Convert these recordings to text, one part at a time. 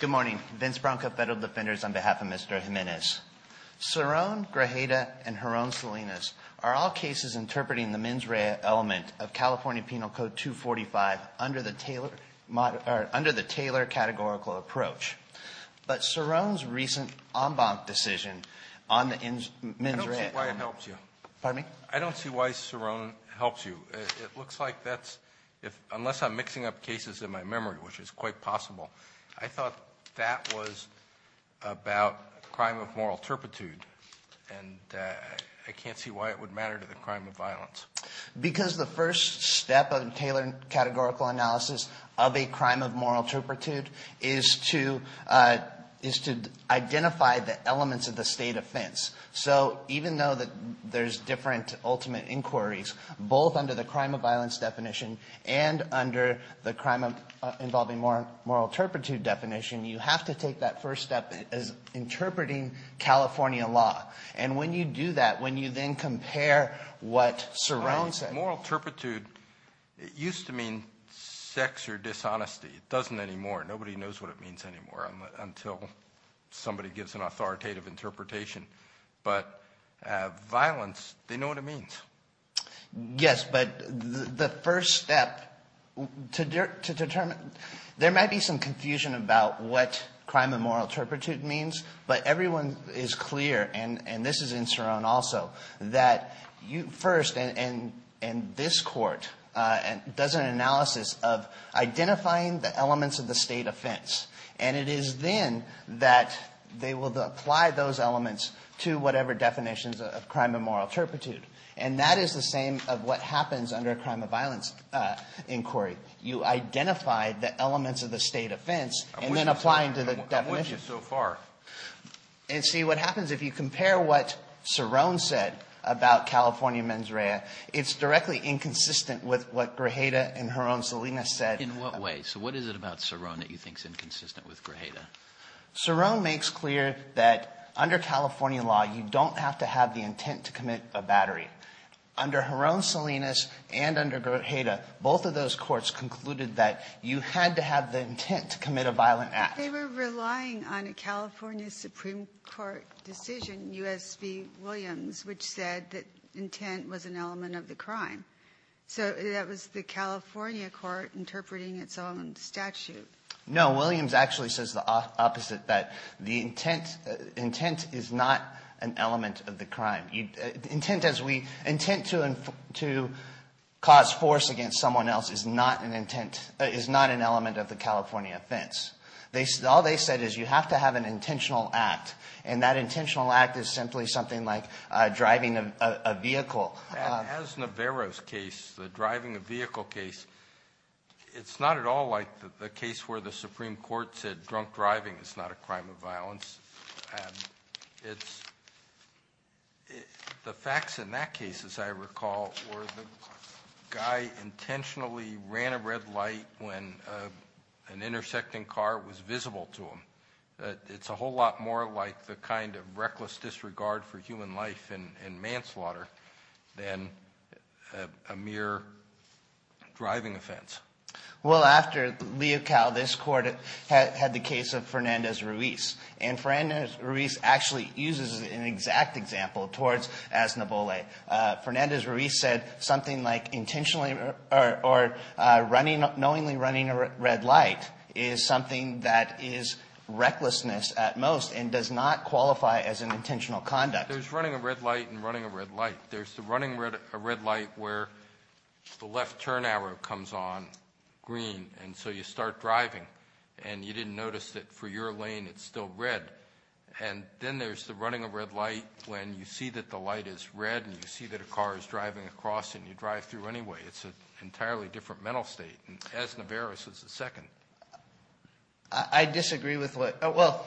Good morning. Vince Branca, Federal Defenders, on behalf of Mr. Jimenez. Cerrone, Grajeda, and Jaron Salinas are all cases interpreting the mens rea element of California Penal Code 245 under the Taylor categorical approach. But Cerrone's recent en banc decision on the mens rea element of the Penal Code 245 helps you. It looks like that's, unless I'm mixing up cases in my memory, which is quite possible, I thought that was about crime of moral turpitude. And I can't see why it would matter to the crime of violence. Because the first step of the Taylor categorical analysis of a crime of moral turpitude is to identify the elements of the state offense. So even though there's different ultimate inquiries, both under the crime of violence definition and under the crime involving moral turpitude definition, you have to take that first step as interpreting California law. And when you do that, when you then compare what Cerrone said Moral turpitude, it used to mean sex or dishonesty. It doesn't anymore. Nobody knows what it means anymore until somebody gives an authoritative interpretation. But violence, they know what it means. Yes. But the first step to determine, there might be some confusion about what crime of moral turpitude means, but everyone is clear, and this is in Cerrone also, that you first and this Court does an analysis of identifying the elements of the state offense. And it is then that they will apply those elements to whatever definitions of crime of moral turpitude. And that is the same of what happens under a crime of violence inquiry. You identify the elements of the state offense and then apply them to the definitions. And see, what happens if you compare what Cerrone said about California mens rea, it's directly inconsistent with what Grijalda and her own Selena said. In what way? So what is it about Cerrone that you think is inconsistent with Grijalda? Cerrone makes clear that under California law, you don't have to have the intent to commit a battery. Under her own Selena's and under Grijalda, both of those courts concluded that you had to have the intent to commit a violent act. But they were relying on a California Supreme Court decision, U.S. v. Williams, which said that intent was an element of the crime. So that was the California court interpreting its own statute. No. Williams actually says the opposite, that the intent is not an element of the intent to cause force against someone else is not an element of the California offense. All they said is you have to have an intentional act. And that intentional act is simply something like driving a vehicle. As Navarro's case, the driving a vehicle case, it's not at all like the case where the Supreme Court said drunk driving is not a crime of violence. It's, the facts in that case, as I recall, were the guy intentionally ran a red light when an intersecting car was visible to him. It's a whole lot more like the kind of reckless disregard for human life and manslaughter than a mere driving offense. Well, after Leocal, this Court had the case of Fernandez-Ruiz. And Fernandez-Ruiz actually uses an exact example towards Asnabole. Fernandez-Ruiz said something like intentionally or knowingly running a red light is something that is recklessness at most and does not qualify as an intentional conduct. There's running a red light and running a red light. There's the running a red light where the left turn arrow comes on green and so you start driving and you didn't notice that for your lane it's still red. And then there's the running a red light when you see that the light is red and you see that a car is driving across and you drive through anyway. It's an entirely different mental state, and as Navarro's is the second. I disagree with what, well,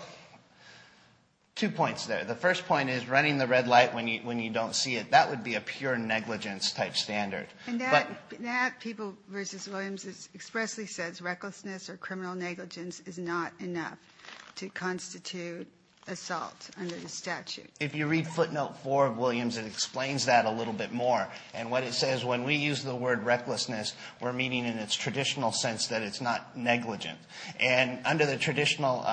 two points there. The first point is running the red light when you don't see it. That would be a pure negligence type standard. And that, people versus Williams, expressly says recklessness or criminal negligence is not enough to constitute assault under the statute. If you read footnote four of Williams, it explains that a little bit more. And what it says, when we use the word recklessness, we're meaning in its traditional sense that it's not negligent. And under the traditional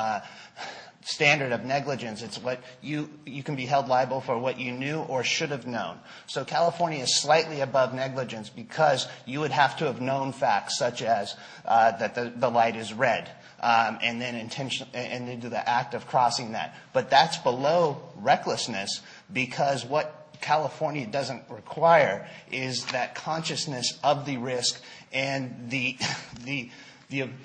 standard of negligence, it's what you can be held liable for what you knew or should have known. So California is slightly above negligence because you would have to have known facts, such as that the light is red, and then into the act of crossing that. But that's below recklessness because what California doesn't require is that consciousness of the risk and the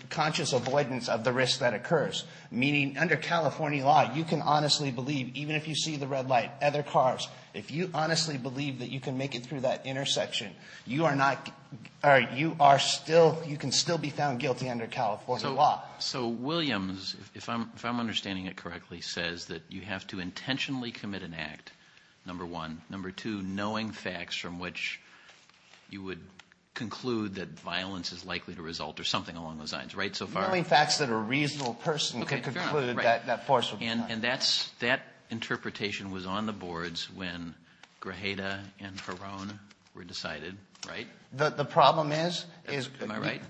conscious avoidance of the risk that occurs. Meaning, under California law, you can honestly believe, even if you see the red light, other cars, if you honestly believe that you can make it through that intersection, you can still be found guilty under California law. So Williams, if I'm understanding it correctly, says that you have to intentionally commit an act, number one. Number two, knowing facts from which you would conclude that violence is likely to result, or something along those lines. Right, so far? Knowing facts that a reasonable person could conclude that force would be done. And that's, that interpretation was on the boards when Grajeda and Peron were decided, right? The problem is, is- Am I right?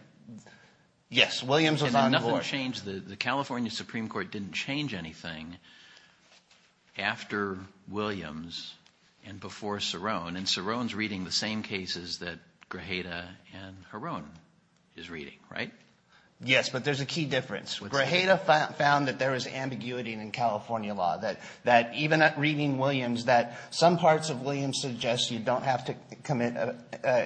Yes, Williams was on the board. And nothing changed. Because the California Supreme Court didn't change anything after Williams and before Cerrone. And Cerrone's reading the same cases that Grajeda and Perron is reading, right? Yes, but there's a key difference. Grajeda found that there is ambiguity in California law. That even at reading Williams, that some parts of Williams suggest you don't have to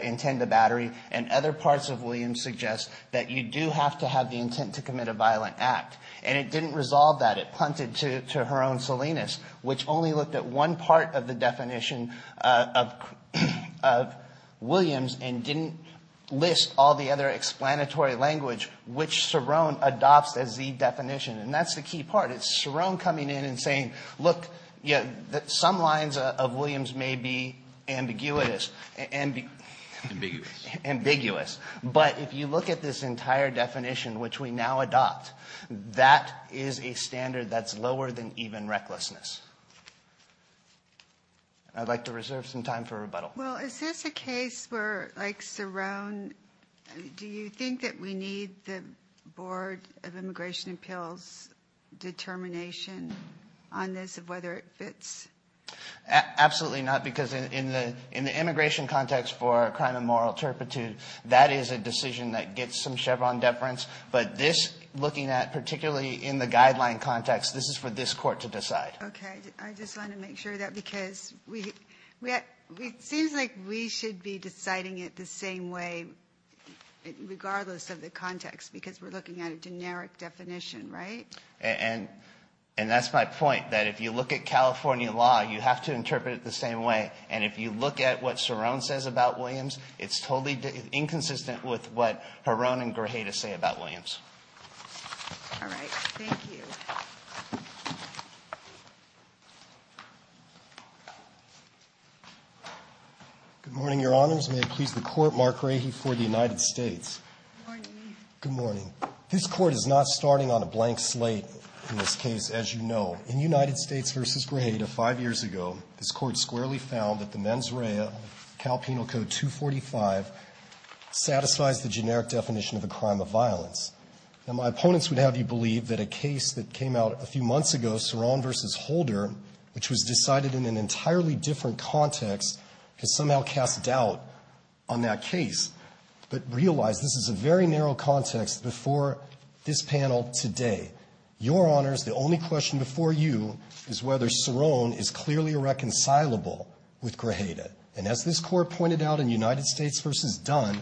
intend a battery. And other parts of Williams suggest that you do have to have the intent to commit a violent act. And it didn't resolve that. It punted to her own Salinas, which only looked at one part of the definition of Williams. And didn't list all the other explanatory language, which Cerrone adopts as the definition. And that's the key part. It's Cerrone coming in and saying, look, some lines of Williams may be ambiguous. Ambiguous. Ambiguous. But if you look at this entire definition, which we now adopt, that is a standard that's lower than even recklessness. I'd like to reserve some time for rebuttal. Well, is this a case where, like Cerrone, do you think that we need the Board of Immigration Appeals determination on this of whether it fits? Absolutely not, because in the immigration context for crime of moral turpitude, that is a decision that gets some Chevron deference. But this, looking at particularly in the guideline context, this is for this court to decide. Okay, I just want to make sure of that, because it seems like we should be deciding it the same way, regardless of the context, because we're looking at a generic definition, right? And that's my point, that if you look at California law, you have to interpret it the same way. And if you look at what Cerrone says about Williams, it's totally inconsistent with what Heron and Grajeda say about Williams. All right, thank you. Good morning, Your Honors. May it please the Court, Mark Rahe for the United States. Good morning. Good morning. This Court is not starting on a blank slate in this case, as you know. In United States v. Grajeda five years ago, this Court squarely found that the mens rea, Cal Penal Code 245, satisfies the generic definition of a crime of violence. Now, my opponents would have you believe that a case that came out a few months ago, Cerrone v. Holder, which was decided in an entirely different context, could somehow cast doubt on that case, but realize this is a very narrow context before this panel today. Your Honors, the only question before you is whether Cerrone is clearly irreconcilable with Grajeda, and as this Court pointed out in United States v. Dunn,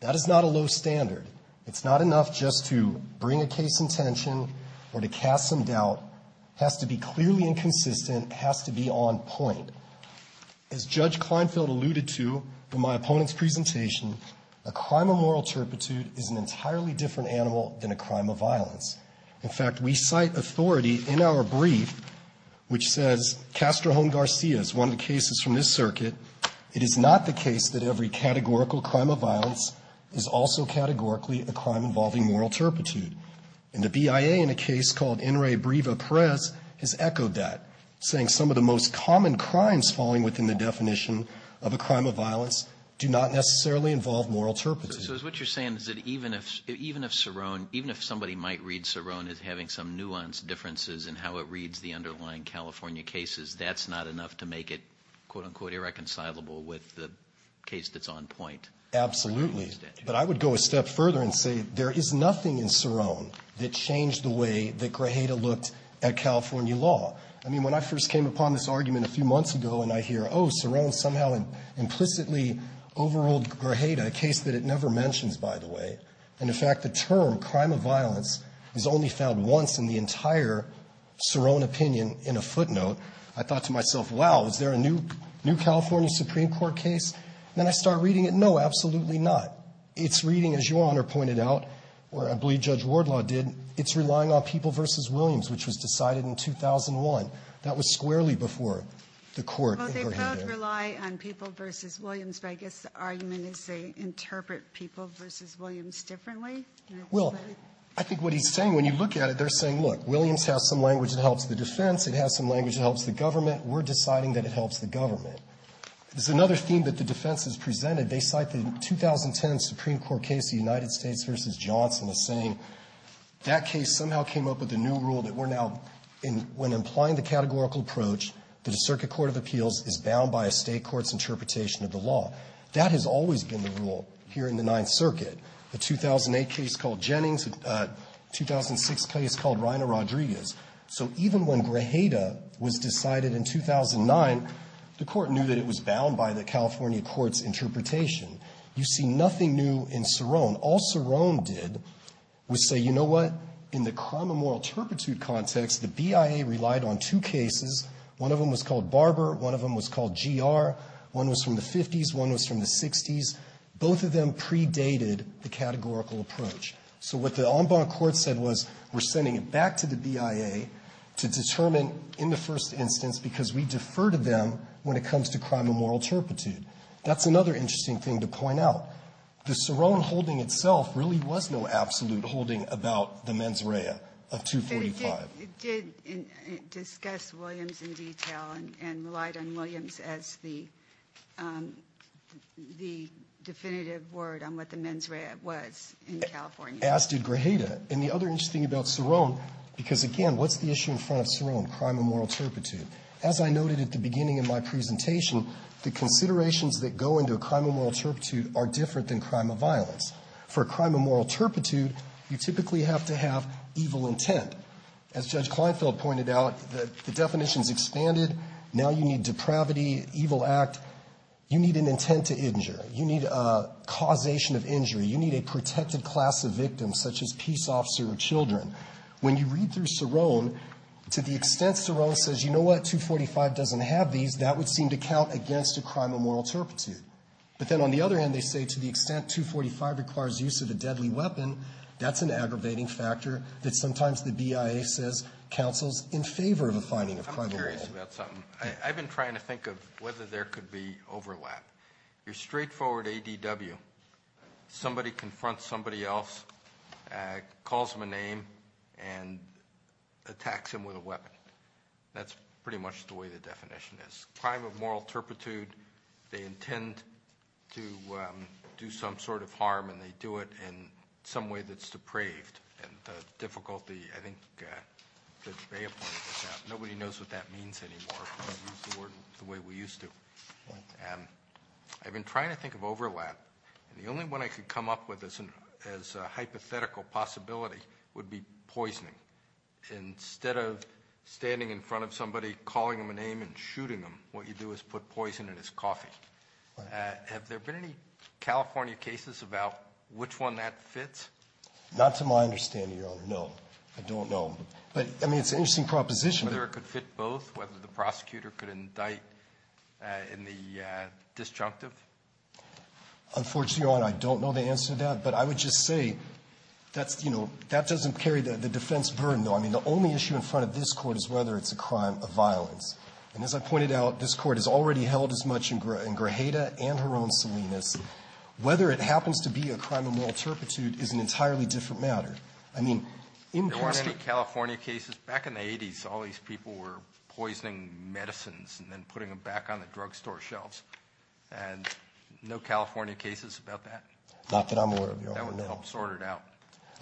that is not a low standard. It's not enough just to bring a case in tension or to cast some doubt. Has to be clearly inconsistent, has to be on point. As Judge Kleinfeld alluded to in my opponent's presentation, a crime of moral turpitude is an entirely different animal than a crime of violence. In fact, we cite authority in our brief, which says Castrojon-Garcia is one of the cases from this circuit, it is not the case that every categorical crime of violence is also categorically a crime involving moral turpitude. And the BIA, in a case called Enre Breva Perez, has echoed that, saying some of the most common crimes falling within the definition of a crime of violence do not necessarily involve moral turpitude. So what you're saying is that even if Cerrone, even if somebody might read Cerrone as having some nuanced differences in how it reads the underlying California cases, that's not enough to make it, quote-unquote, irreconcilable with the case that's on point. Absolutely, but I would go a step further and say there is nothing in Cerrone that changed the way that Grajeda looked at California law. I mean, when I first came upon this argument a few months ago and I hear, oh, Cerrone somehow implicitly overruled Grajeda, a case that it never mentions, by the way, and, in fact, the term, crime of violence, is only found once in the entire Cerrone opinion in a footnote, I thought to myself, wow, is there a new California Supreme Court case? And then I start reading it, no, absolutely not. It's reading, as Your Honor pointed out, or I believe Judge Wardlaw did, it's relying on People v. Williams, which was decided in 2001. That was squarely before the court in Grajeda. They both rely on People v. Williams, but I guess the argument is they interpret People v. Williams differently. Well, I think what he's saying, when you look at it, they're saying, look, Williams has some language that helps the defense. It has some language that helps the government. We're deciding that it helps the government. There's another theme that the defense has presented. They cite the 2010 Supreme Court case, the United States v. Johnson, as saying that case somehow came up with a new rule that we're now, when applying the categorical approach, that a circuit court of appeals is bound by a State court's interpretation of the law. That has always been the rule here in the Ninth Circuit, the 2008 case called Jennings, 2006 case called Reina Rodriguez. So even when Grajeda was decided in 2009, the Court knew that it was bound by the California court's interpretation. You see nothing new in Cerrone. All Cerrone did was say, you know what, in the crime of moral turpitude context, the BIA relied on two cases. One of them was called Barber. One of them was called GR. One was from the 50s. One was from the 60s. Both of them predated the categorical approach. So what the en banc court said was, we're sending it back to the BIA to determine, in the first instance, because we defer to them when it comes to crime of moral turpitude. That's another interesting thing to point out. The Cerrone holding itself really was no absolute holding about the mens rea of 245. It did discuss Williams in detail and relied on Williams as the definitive word on what the mens rea was in California. As did Grajeda. And the other interesting thing about Cerrone, because again, what's the issue in front of Cerrone? Crime of moral turpitude. As I noted at the beginning of my presentation, the considerations that go into a crime of moral turpitude are different than crime of violence. For a crime of moral turpitude, you typically have to have evil intent. As Judge Kleinfeld pointed out, the definition's expanded. Now you need depravity, evil act. You need an intent to injure. You need a causation of injury. You need a protected class of victim, such as peace officer or children. When you read through Cerrone, to the extent Cerrone says, you know what, 245 doesn't have these, that would seem to count against a crime of moral turpitude. But then on the other end, they say, to the extent 245 requires use of a deadly weapon, that's an aggravating factor that sometimes the BIA says counsels in favor of a finding of crime of moral turpitude. Alito, I'm curious about something. I've been trying to think of whether there could be overlap. Your straightforward ADW, somebody confronts somebody else, calls him a name, and attacks him with a weapon. That's pretty much the way the definition is. Crime of moral turpitude, they intend to do some sort of harm, and they do it, and in some way that's depraved, and the difficulty, I think Judge Bay appointed it that. Nobody knows what that means anymore, we use the word the way we used to. And I've been trying to think of overlap, and the only one I could come up with as a hypothetical possibility would be poisoning. Instead of standing in front of somebody, calling them a name, and shooting them, what you do is put poison in his coffee. Have there been any California cases about which one that fits? Not to my understanding, Your Honor, no. I don't know. But, I mean, it's an interesting proposition. Whether it could fit both, whether the prosecutor could indict in the disjunctive? Unfortunately, Your Honor, I don't know the answer to that, but I would just say that's, you know, that doesn't carry the defense burden, though. I mean, the only issue in front of this Court is whether it's a crime of violence. And as I pointed out, this Court has already held as much in Grajeda and her own Salinas. Whether it happens to be a crime of moral turpitude is an entirely different matter. I mean, in question- There weren't any California cases? Back in the 80s, all these people were poisoning medicines and then putting them back on the drugstore shelves. And no California cases about that? Not that I'm aware of, Your Honor, no. That would help sort it out.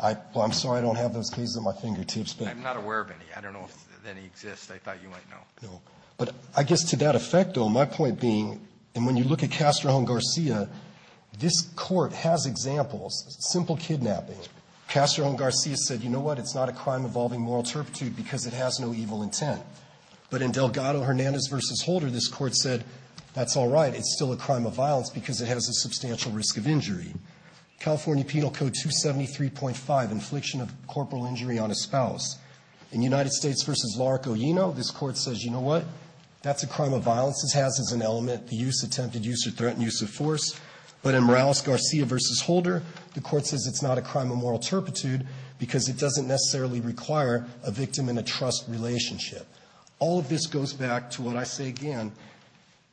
I'm sorry I don't have those cases at my fingertips, but- I'm not aware of any. I don't know if any exists. I thought you might know. But I guess to that effect, though, my point being, and when you look at Castro-Jones-Garcia, this Court has examples, simple kidnapping. Castro-Jones-Garcia said, you know what, it's not a crime involving moral turpitude because it has no evil intent. But in Delgado-Hernandez v. Holder, this Court said, that's all right, it's still a crime of violence because it has a substantial risk of injury. California Penal Code 273.5, infliction of corporal injury on a spouse. In United States v. Larco-Yeno, this Court says, you know what, that's a crime of violence. It has as an element the use, attempted use or threatened use of force. But in Morales-Garcia v. Holder, the Court says it's not a crime of moral turpitude because it doesn't necessarily require a victim and a trust relationship. All of this goes back to what I say again,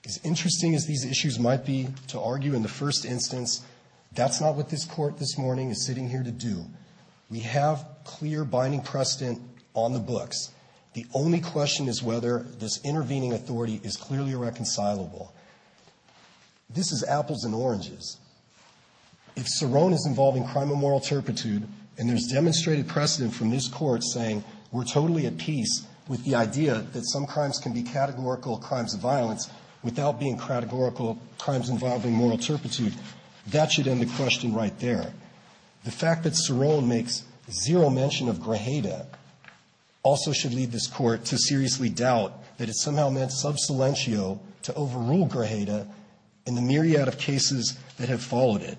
as interesting as these issues might be to argue in the first instance, that's not what this Court this morning is sitting here to do. We have clear binding precedent on the books. The only question is whether this intervening authority is clearly reconcilable. This is apples and oranges. If Cerrone is involving crime of moral turpitude and there's demonstrated precedent from this Court saying we're totally at peace with the idea that some crimes can be categorical crimes of violence without being categorical crimes involving moral turpitude, that should end the question right there. The fact that Cerrone makes zero mention of grajeda also should lead this Court to seriously doubt that it somehow meant sub silentio to overrule grajeda in the myriad of cases that have followed it.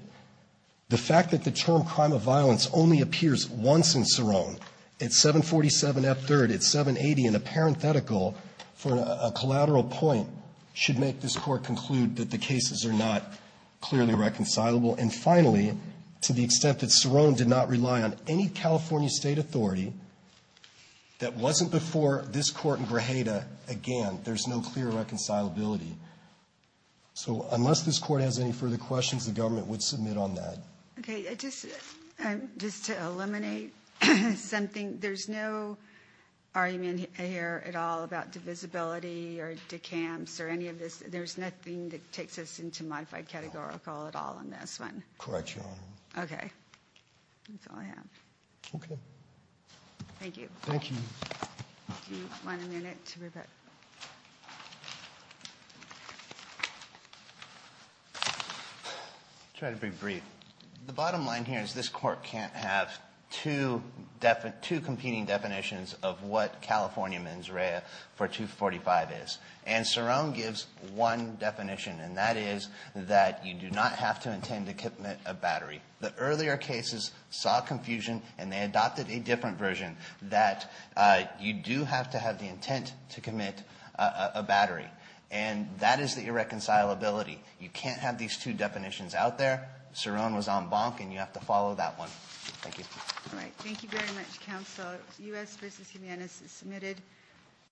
The fact that the term crime of violence only appears once in Cerrone, at 747F3rd, at 780, in a parenthetical for a collateral point, should make this Court conclude that the cases are not clearly reconcilable. And finally, to the extent that Cerrone did not rely on any California state authority that wasn't before this Court in grajeda, again, there's no clear reconcilability. So unless this Court has any further questions, the government would submit on that. Okay, just to eliminate something, there's no argument here at all about divisibility or decams or any of this. There's nothing that takes us into modified categorical at all in this one? Correct, Your Honor. Okay, that's all I have. Okay. Thank you. Thank you. Do you want a minute to repeat? Try to be brief. The bottom line here is this court can't have two competing definitions of what California mens rea for 245 is. And Cerrone gives one definition, and that is that you do not have to intend to commit a battery. The earlier cases saw confusion, and they adopted a different version, that you do have to have the intent to commit a battery. And that is the irreconcilability. You can't have these two definitions out there. Cerrone was on bonk, and you have to follow that one. Thank you. All right, thank you very much, counsel. U.S. versus Jimenez is submitted.